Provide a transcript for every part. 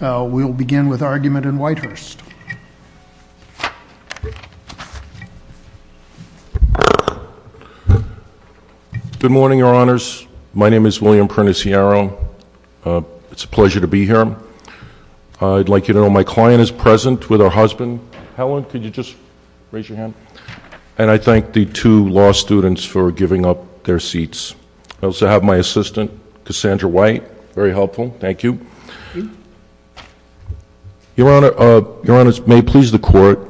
We'll begin with argument in Whitehurst. Good morning, your honors. My name is William Prentiss Yarrow. It's a pleasure to be here. I'd like you to know my client is present with her husband. Helen, could you just raise your hand? And I thank the two law students for giving up their seats. I also have my assistant, Cassandra White. Very helpful. Thank you. Your honor, your honors may please the court.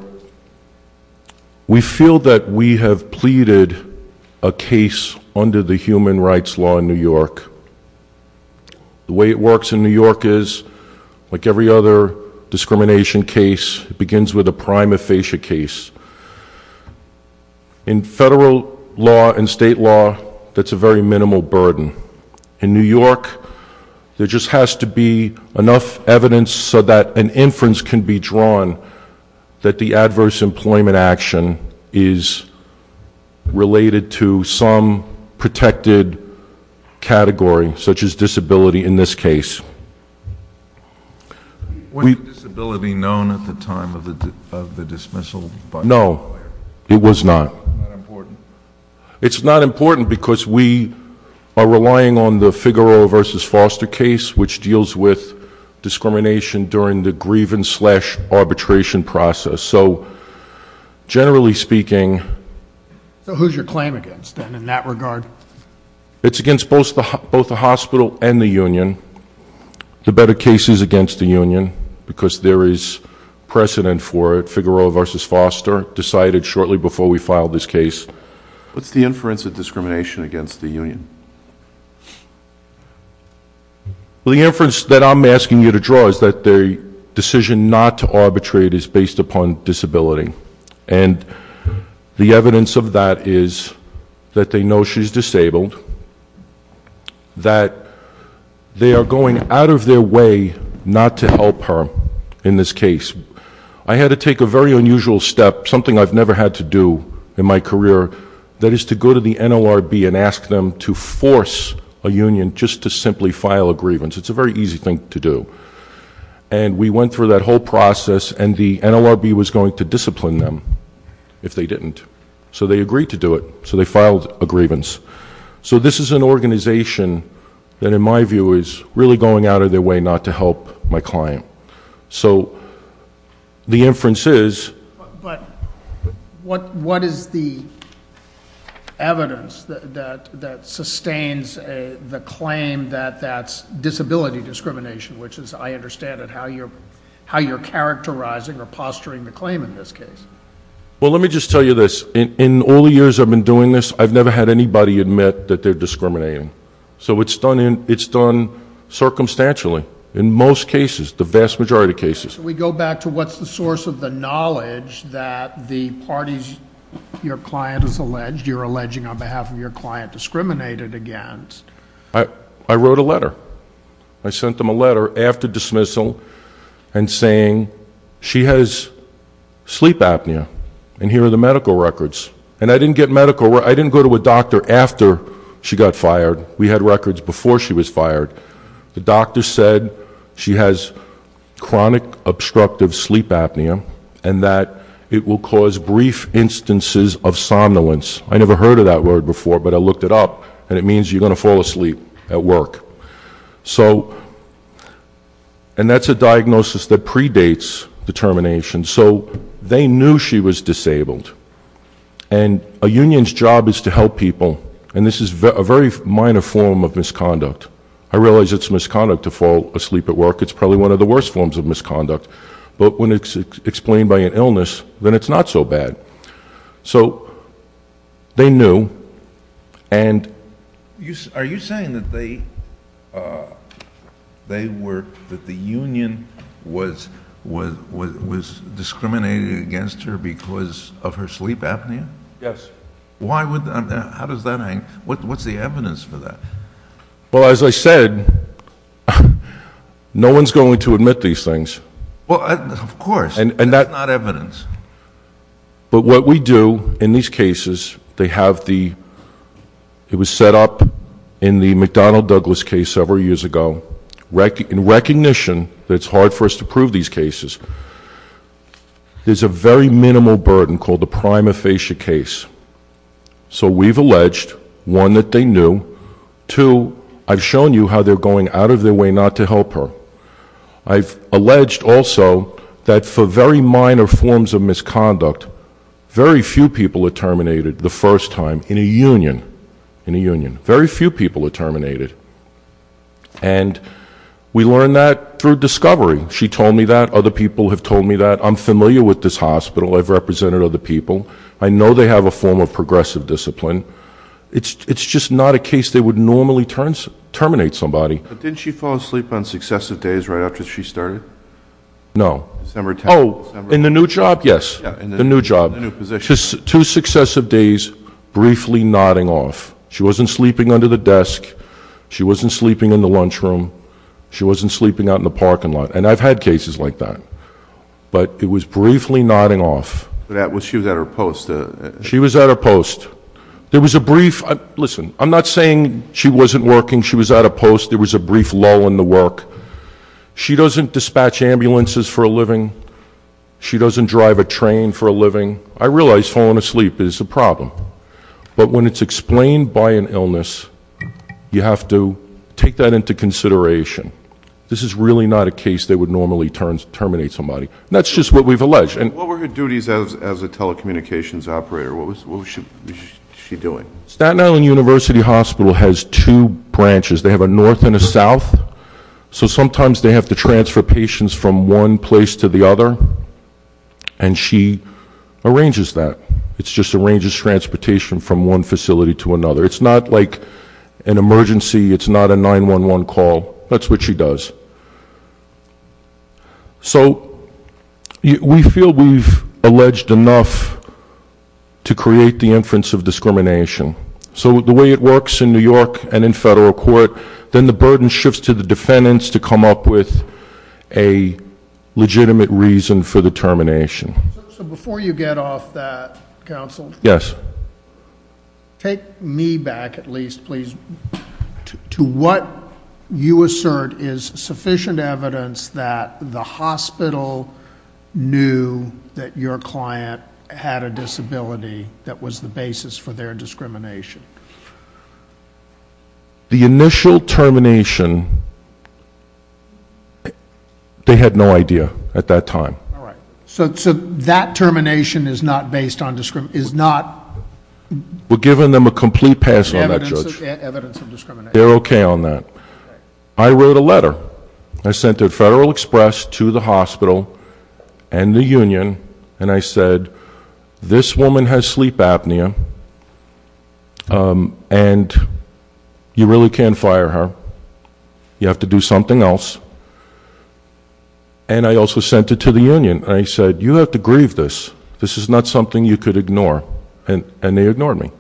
We feel that we have pleaded a case under the Human Rights Law in New York. The way it works in New York is, like every other discrimination case, it begins with a prime aphasia case. In federal law and state law, that's a very minimal burden. In New York, there just has to be enough evidence so that an inference can be drawn that the adverse employment action is related to some protected category, such as disability, in this case. Was disability known at the time of the dismissal? No, it was not. It's not important because we are relying on the Figueroa versus Foster case, which deals with discrimination during the grievance slash arbitration process. So, generally speaking... So who's your claim against, then, in that regard? It's against both the both the hospital and the union. The better case is against the union because there is precedent for it. Figueroa versus Foster decided shortly before we made the decision to arbitrate based upon disability. And the evidence of that is that they know she's disabled, that they are going out of their way not to help her in this case. I had to take a very unusual step, something I've never had to do in my career, that is to go to the NLRB and ask them to force a union just to simply file a grievance. It's a very easy thing to do. And we went through that whole process and the NLRB was going to discipline them if they didn't. So they agreed to do it. So they filed a grievance. So this is an organization that, in my view, is really going out of their way not to help my client. So the is the evidence that sustains the claim that that's disability discrimination, which is, I understand it, how you're characterizing or posturing the claim in this case? Well, let me just tell you this. In all the years I've been doing this, I've never had anybody admit that they're discriminating. So it's done circumstantially in most cases, the vast majority of cases. We go back to what's the source of the knowledge that the parties, your client is alleged, you're alleging on behalf of your client, discriminated against? I wrote a letter. I sent them a letter after dismissal and saying she has sleep apnea and here are the medical records. And I didn't get medical, I didn't go to a doctor after she got fired. We had records before she was fired. The doctor said she has chronic obstructive sleep apnea and that it will cause brief instances of somnolence. I never heard of that word before, but I looked it up and it means you're going to fall asleep at work. So, and that's a diagnosis that predates determination. So they knew she was disabled. And a union's job is to help people, and this is a very minor form of misconduct. I realize it's misconduct to probably one of the worst forms of misconduct, but when it's explained by an illness, then it's not so bad. So they knew. And you, are you saying that they they were, that the union was, was, was discriminated against her because of her sleep apnea? Yes. Why would that, how does that hang, what's the evidence for that? Well, as I said, no one's going to admit these things. Well, of course. And, and that's not evidence. But what we do in these cases, they have the, it was set up in the McDonnell Douglas case several years ago, in recognition that it's hard for us to prove these cases. There's a very minimal burden called the I've shown you how they're going out of their way not to help her. I've alleged also that for very minor forms of misconduct, very few people are terminated the first time in a union, in a union. Very few people are terminated. And we learned that through discovery. She told me that. Other people have told me that. I'm familiar with this hospital. I've represented other people. I know they have a form of progressive discipline. It's, it's just not a case they would normally terminate somebody. But didn't she fall asleep on successive days right after she started? No. December 10th. Oh, in the new job? Yes. The new job. Two successive days, briefly nodding off. She wasn't sleeping under the desk. She wasn't sleeping in the lunchroom. She wasn't sleeping out in the parking lot. And I've had cases like that. But it was briefly nodding off. She was at her post. She was at her post. There was a brief, listen, I'm not saying she wasn't working. She was at a post. There was a brief lull in the work. She doesn't dispatch ambulances for a living. She doesn't drive a train for a living. I realize falling asleep is a problem. But when it's explained by an illness, you have to take that into consideration. This is really not a case they would normally terminate somebody. That's just what we've alleged. And what were her duties as a telecommunications operator? What was she doing? Staten Island University Hospital has two branches. They have a north and a south. So sometimes they have to transfer patients from one place to the other. And she arranges that. It's just arranges transportation from one facility to another. It's not like an emergency. It's not a 911 call. That's what she does. So we feel we've alleged enough to create the inference of discrimination. So the way it works in New York and in federal court, then the burden shifts to the defendants to come up with a legitimate reason for the termination. So before you get off that counsel, yes. Take me back at least, please. To what you assert is sufficient evidence that the hospital knew that your client had a disability that was the basis for their discrimination? The initial termination, they had no idea at that time. All right. So that termination is not based on discrimination? Is not? We're giving them a complete pass on that, Judge. Evidence of discrimination. They're okay on that. I wrote a letter. I sent it Federal Express to the hospital and the union and I said, this woman has sleep apnea and you really can't fire her. You have to do something else. And I also sent it to the union. I said, you have to grieve this. This is not something you could ignore. And they ignored me.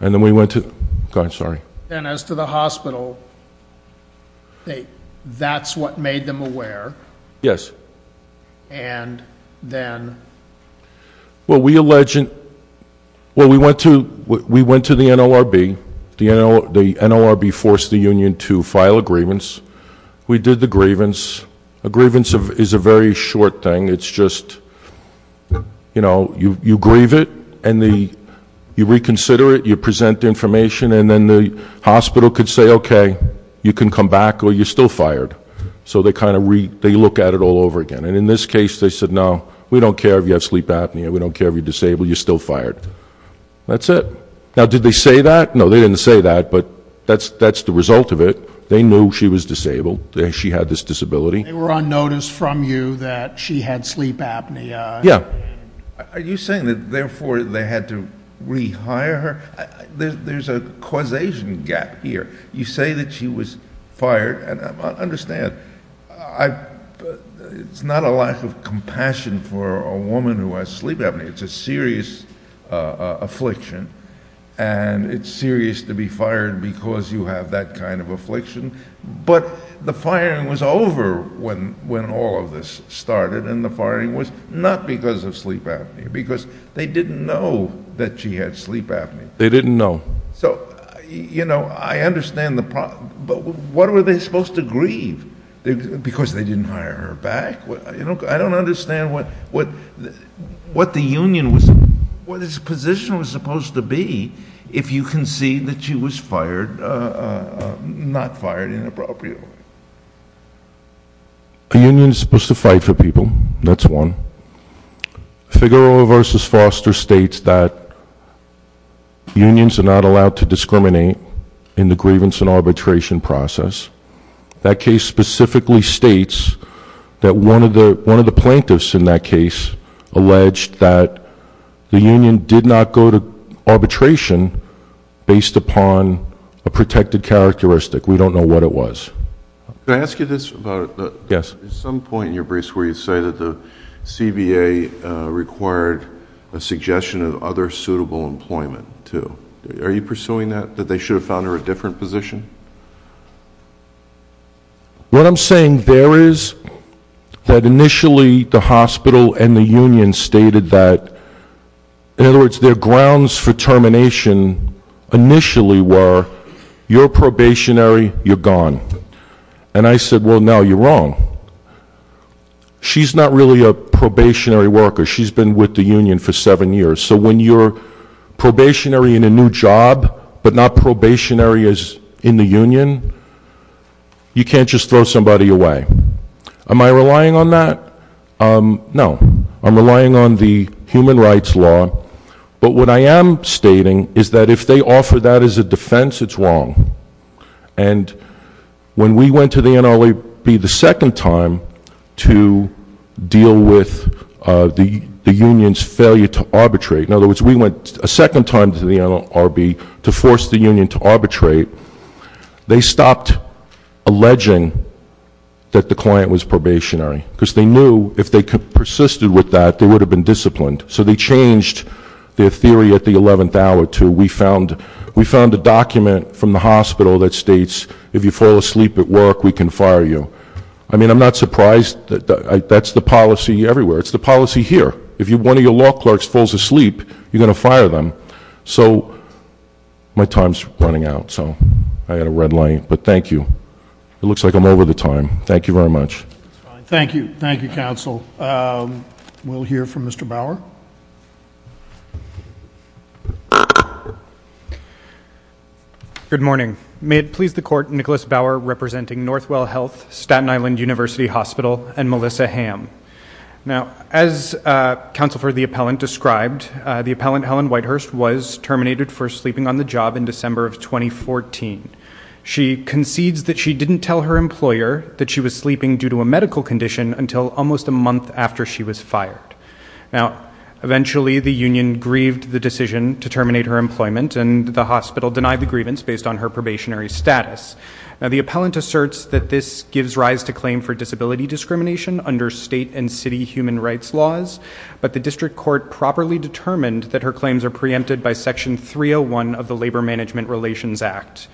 And then we went to, I'm sorry. And as to the hospital, that's what made them aware? Yes. And then? Well we alleged, well we went to the NLRB. The NLRB forced the union to file a grievance. We did the grievance. A grievance is a very short thing. It's just, you know, you and the, you reconsider it, you present the information, and then the hospital could say, okay, you can come back or you're still fired. So they kind of read, they look at it all over again. And in this case, they said, no, we don't care if you have sleep apnea. We don't care if you're disabled. You're still fired. That's it. Now did they say that? No, they didn't say that. But that's, that's the result of it. They knew she was disabled. She had this disability. They were on notice from you that she had sleep apnea. Yeah. Are you saying that therefore they had to rehire her? There's a causation gap here. You say that she was fired, and I understand. I, it's not a lack of compassion for a woman who has sleep apnea. It's a serious affliction. And it's serious to be fired because you have that kind of affliction. But the firing was over when, when all of this started. And the firing was not because of sleep apnea, because they didn't know that she had sleep apnea. They didn't know. So you know, I understand the problem. But what were they supposed to grieve? Because they didn't hire her back? I don't understand what, what, what the union was, what its position was supposed to be if you can see that she was fired, not fired inappropriately. A union is supposed to fight for people. That's one. Figueroa v. Foster states that unions are not allowed to discriminate in the grievance and arbitration process. That case specifically states that one of the, one of the plaintiffs in that case alleged that the union did not go to arbitration based upon a protected characteristic. We don't know what it was. Can I ask you this about, at some point in your briefs where you say that the CBA required a suggestion of other suitable employment too. Are you pursuing that, that they should have found her a different position? What I'm saying there is that initially the hospital and the union stated that, in other words, their grounds for termination initially were, you're probationary, you're gone. And I said, well, no, you're wrong. She's not really a probationary worker. She's been with the union for seven years. So when you're probationary in a new job, but not probationary as in the union, you can't just throw somebody away. Am I relying on that? No, I'm relying on the human rights law. But what I am stating is that if they offer that as a defense, it's wrong. And when we went to the NLRB the second time to deal with the, the union's failure to arbitrate, in other words, we went a second time to the NLRB to force the union to arbitrate, they stopped alleging that the client was probationary because they knew if they persisted with that, they would have been disciplined. So they changed their theory at the 11th hour to we found, we found a document from the hospital that states, if you fall asleep at work, we can fire you. I mean, I'm not surprised that that's the policy everywhere. It's the law clerks falls asleep, you're going to fire them. So my time's running out. So I had a red light, but thank you. It looks like I'm over the time. Thank you very much. Thank you. Thank you, counsel. We'll hear from Mr. Bauer. Good morning. May it please the court. Nicholas Bauer representing Northwell Health, Staten Island University Hospital and Melissa Ham. Now, as, uh, counsel for the appellant described, uh, the appellant Helen Whitehurst was terminated for sleeping on the job in December of 2014. She concedes that she didn't tell her employer that she was sleeping due to a medical condition until almost a month after she was fired. Now, eventually the union grieved the decision to terminate her employment and the hospital denied the grievance based on her probationary status. Now the appellant asserts that this gives rise to claim for disability discrimination under state and city human rights laws, but the district court properly determined that her claims are preempted by section 301 of the labor management relations act.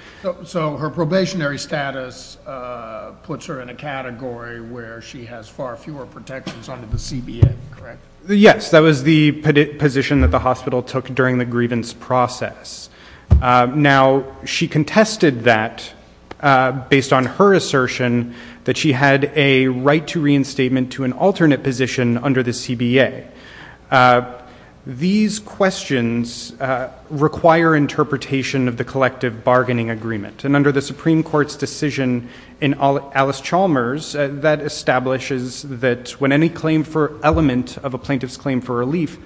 So her probationary status, uh, puts her in a category where she has far fewer protections under the CBN, correct? Yes, that was the position that the hospital took during the grievance process. Uh, now she contested that, uh, based on her assertion that she had a right to reinstatement to an alternate position under the CBA. Uh, these questions, uh, require interpretation of the collective bargaining agreement and under the Supreme court's decision in all Alice Chalmers, uh, that establishes that when any claim for element of a plaintiff's claim for relief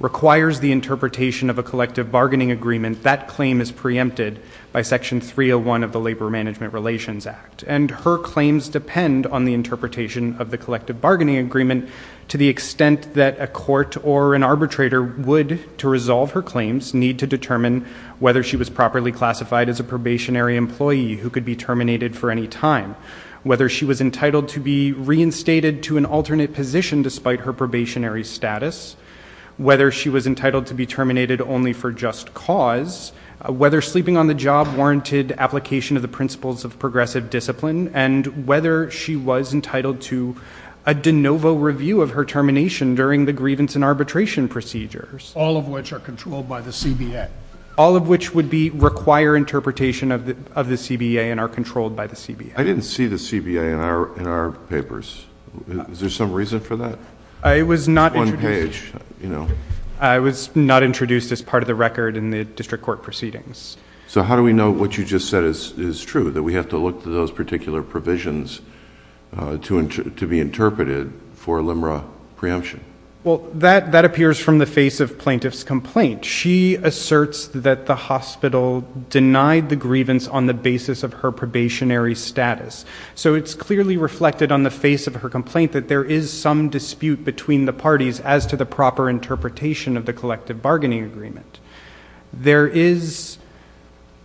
requires the interpretation of a collective bargaining agreement, that claim is preempted by section 301 of the labor management relations act. And her claims depend on the interpretation of the collective bargaining agreement to the extent that a court or an arbitrator would to resolve her claims need to determine whether she was properly classified as a probationary employee who could be terminated for any time, whether she was entitled to be reinstated to an alternate position despite her probationary status, whether she was entitled to be terminated only for just cause, whether sleeping on the job warranted application of the principles of progressive discipline and whether she was entitled to a DeNovo review of her termination during the grievance and arbitration procedures, all of which are controlled by the CBA, all of which would be require interpretation of the, of the CBA and are controlled by the CBA. I didn't see the CBA in our, in our papers. Is there some reason for that? I was not one of the record in the district court proceedings. So how do we know what you just said is true, that we have to look to those particular provisions, uh, to, to be interpreted for a LIMRA preemption? Well, that, that appears from the face of plaintiff's complaint. She asserts that the hospital denied the grievance on the basis of her probationary status. So it's clearly reflected on the face of her complaint that there is some dispute between the parties as to the proper interpretation of the collective bargaining agreement. There is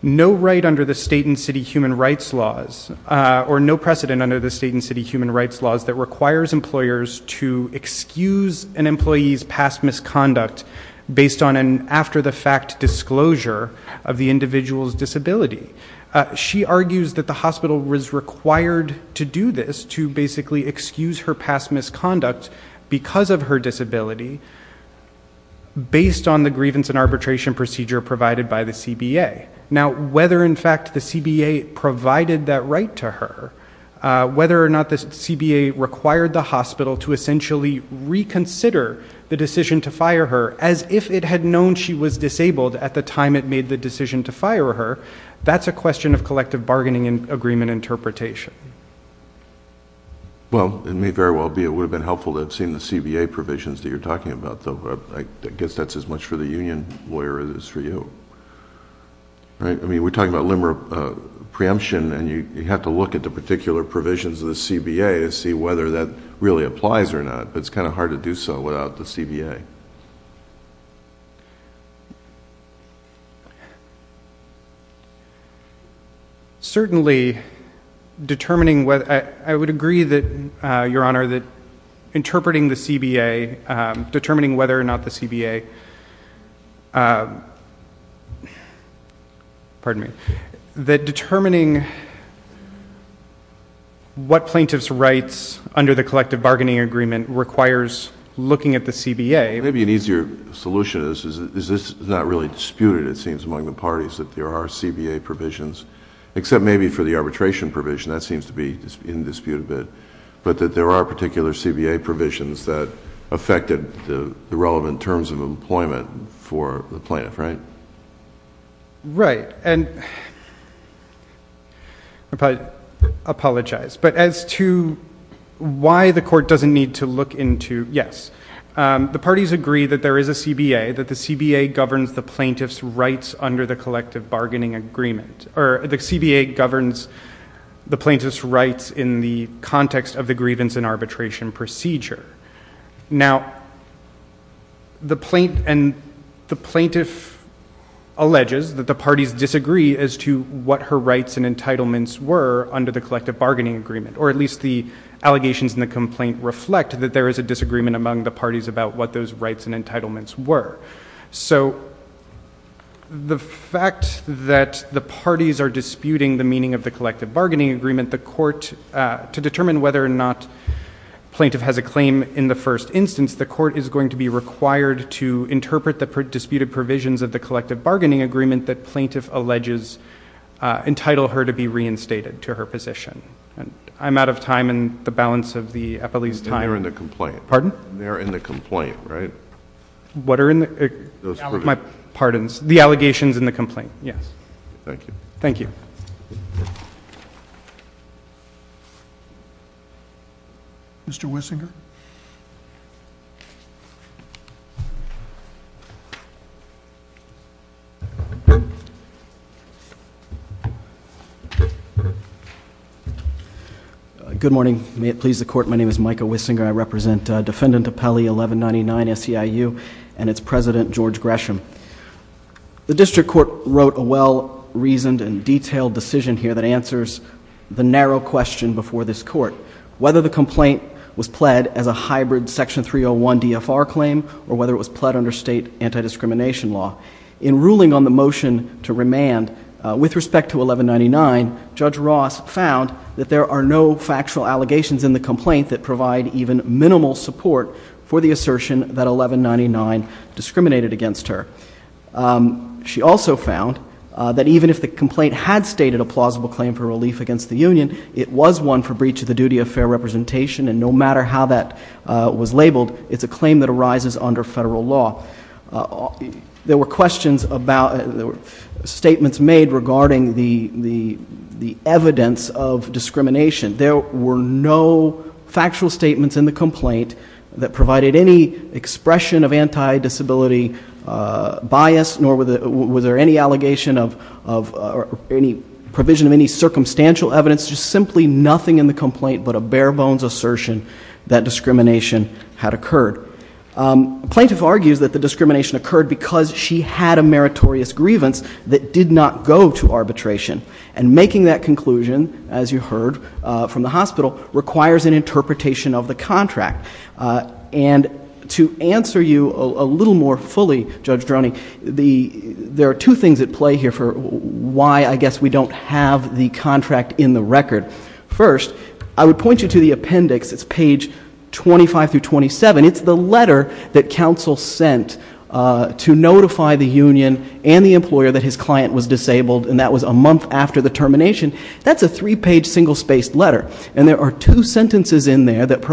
no right under the state and city human rights laws, uh, or no precedent under the state and city human rights laws that requires employers to excuse an employee's past misconduct based on an after the fact disclosure of the individual's disability. Uh, she argues that the hospital was required to do this, to basically excuse her past misconduct because of her disability based on the grievance and arbitration procedure provided by the CBA. Now, whether in fact the CBA provided that right to her, uh, whether or not the CBA required the hospital to essentially reconsider the decision to fire her as if it had known she was disabled at the time it made the decision to fire her. That's a question of collective bargaining and agreement and interpretation. Well, it may very well be it would have been helpful to have seen the CBA provisions that you're talking about though, but I guess that's as much for the union lawyer as it is for you, right? I mean, we're talking about limer, uh, preemption and you have to look at the particular provisions of the CBA to see whether that really applies or not, but it's kind of hard to do so without the CBA. Certainly determining what, I would agree that, uh, your honor that interpreting the CBA, um, determining whether or not the CBA, uh, pardon me, that determining what plaintiff's rights under the collective bargaining agreement requires looking at the CBA. Maybe an easier solution is, is, is this not really disputed, it seems among the parties that there are CBA provisions, except maybe for the arbitration provision that seems to be in dispute a bit, but that there are particular CBA provisions that affected the relevant terms of employment for the plaintiff, right? Right. And I apologize, but as to, you know, why the court doesn't need to look into, yes, um, the parties agree that there is a CBA, that the CBA governs the plaintiff's rights under the collective bargaining agreement or the CBA governs the plaintiff's rights in the context of the grievance and arbitration procedure. Now the plaint, and the plaintiff alleges that the parties disagree as to what her rights and entitlements were under the collective bargaining agreement, or at least the allegations in the complaint reflect that there is a disagreement among the parties about what those rights and entitlements were. So the fact that the parties are disputing the meaning of the collective bargaining agreement, the court, uh, to determine whether or not plaintiff has a claim in the first instance, the court is going to be required to interpret the disputed provisions of the collective bargaining agreement that plaintiff alleges uh, entitle her to be reinstated to her position. And I'm out of time and the balance of the Eppley's time. They're in the complaint. Pardon? They're in the complaint, right? What are in the, my pardons, the allegations in the complaint, yes. Thank you. Thank you. Mr. Wissinger? Good morning. May it please the court, my name is Micah Wissinger. I represent Defendant Eppley, 1199 SEIU, and it's President George Gresham. The district court wrote a well-reasoned and detailed decision here that answers the narrow question before this court, whether the complaint was pled as a hybrid section 301 DFR claim or whether it was pled under state anti-discrimination law. In ruling on the motion to remand, uh, with respect to 1199, Judge Ross found that there are no factual allegations in the complaint that provide even minimal support for the assertion that 1199 discriminated against her. Um, she also found, uh, that even if the complaint had stated a plausible claim for relief against the union, it was one for breach of the duty of fair representation, and no matter how that, uh, was labeled, it's a claim that arises under federal law. Uh, there were questions about, there were statements made regarding the, the, the evidence of discrimination. There were no factual statements in the complaint that provided any expression of anti-disability bias, nor was there any allegation of, of, or any provision of any circumstantial evidence, just simply nothing in the complaint but a bare bones assertion that discrimination had occurred. Um, plaintiff argues that the discrimination occurred because she had a meritorious grievance that did not go to arbitration, and making that conclusion, as you heard, uh, from the plaintiff fully, Judge Droney, the, there are two things at play here for why, I guess, we don't have the contract in the record. First, I would point you to the appendix. It's page 25 through 27. It's the letter that counsel sent, uh, to notify the union and the employer that his client was disabled, and that was a month after the termination. That's a three-page, single-spaced letter, and there are two sentences in there that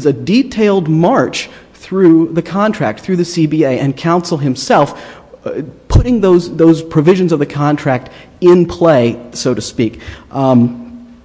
is a detailed march through the contract, through the CBA, and counsel himself, putting those, those provisions of the contract in play, so to speak. Um,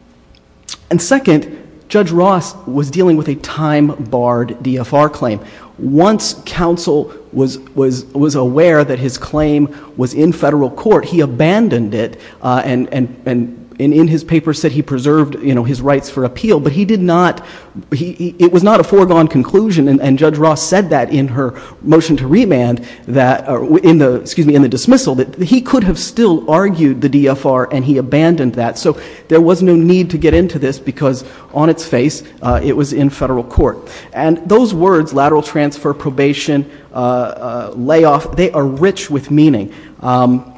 and second, Judge Ross was dealing with a time-barred DFR claim. Once counsel was, was, was aware that his claim was in federal court, he abandoned it, uh, and, and, and in his paper said he preserved, you know, his rights for appeal, but he did not, he, he, it was not a foregone conclusion, and, and Judge Ross said that in her motion to remand that, uh, in the, excuse me, in the dismissal, that he could have still argued the DFR, and he abandoned that, so there was no need to get into this, because on its face, uh, it was in federal court, and those words, lateral transfer, probation, uh, uh, layoff, they are rich with meaning, um,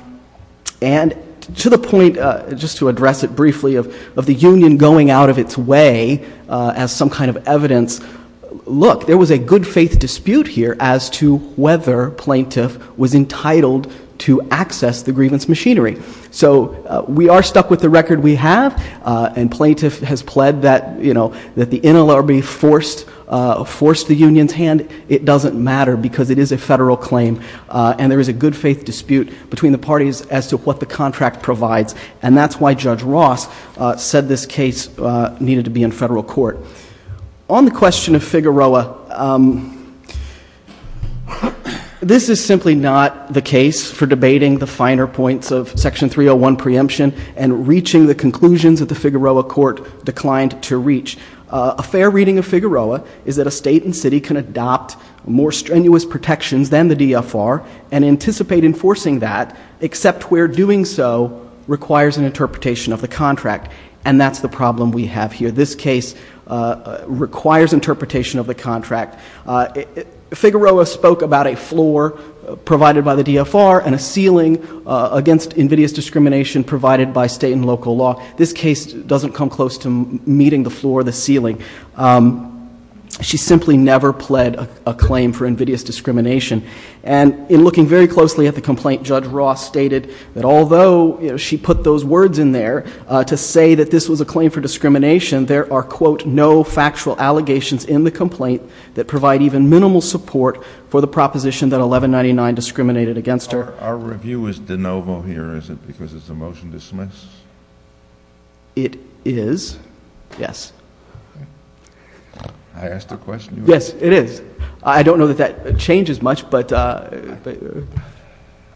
and to the point, uh, just to address it briefly, of, of the union going out of its way, uh, as some kind of evidence, look, there was a good-faith dispute here as to whether plaintiff was entitled to access the grievance machinery. So, uh, we are stuck with the record we have, uh, and plaintiff has pled that, you know, that the NLRB forced, uh, forced the union's hand. It doesn't matter, because it is a federal claim, uh, and there is a good-faith dispute between the parties as to what the contract provides, and that's why Judge Ross, uh, said this case, uh, needed to be in federal court. On the question of Figueroa, um, this is simply not the case for debating the finer points of Section 301 preemption and reaching the conclusions that the Figueroa court declined to reach. Uh, a fair reading of Figueroa is that a state and city can adopt more strenuous protections than the DFR and anticipate enforcing that, except where doing so requires an interpretation of the contract, and that's the problem we have here. This case, uh, requires interpretation of the contract. Uh, Figueroa spoke about a floor provided by the DFR and a ceiling, uh, against invidious discrimination provided by state and local law. This case doesn't come close to meeting the floor or the ceiling. Um, she simply never pled a claim for invidious discrimination, and in looking very closely at the complaint, Judge Ross stated that although, you know, she put those words in there, uh, to say that this was a claim for discrimination, there are, quote, no factual allegations in the complaint that provide even minimal support for the proposition that 1199 discriminated against her. Our review is de novo here, is it, because it's a motion to dismiss? It is, yes. I asked a question. Yes, it is. I don't know that that changes much, but, uh, uh,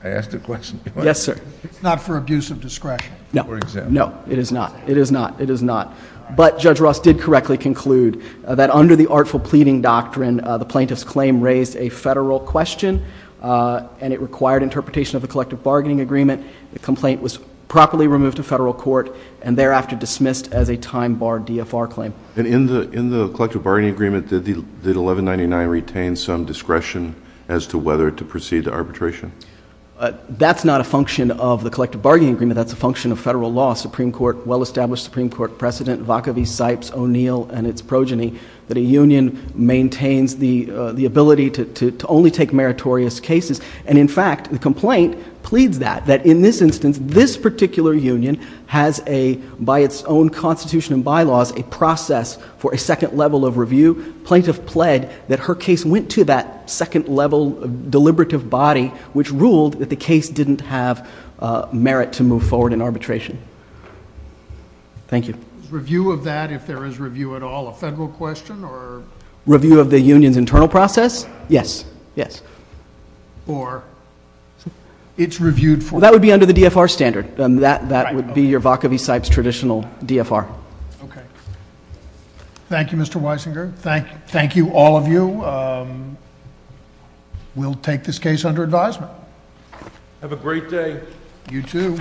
I asked a question. Yes, sir. It's not for abuse of discretion. No, no, it is not. It is not. It is not. But Judge Ross did correctly conclude that under the artful pleading doctrine, uh, the plaintiff's claim raised a federal question, uh, and it required interpretation of the collective bargaining agreement. The complaint was properly removed to federal court and thereafter dismissed as a time bar DFR claim. And in the, in the collective bargaining agreement, did the 1199 retain some discretion as to whether to proceed to arbitration? Uh, that's not a function of the collective bargaining agreement. That's a function of federal law. Supreme court, well-established Supreme court precedent, Vacaville, Sipes, O'Neill and its progeny that a union maintains the, uh, the ability to, to, to only take meritorious cases. And in fact, the complaint pleads that, that in this instance, this particular union has a, by its own constitution and bylaws, a process for a second level of review. Plaintiff pled that her case went to that second level deliberative body, which ruled that the case didn't have a merit to move forward in arbitration. Thank you. Review of that. If there is review at all, a federal question or review of the union's internal process? Yes. Yes. Or it's traditional DFR. Okay. Thank you, Mr. Weisinger. Thank you. Thank you. All of you. Um, we'll take this case under advisement. Have a great day. You too.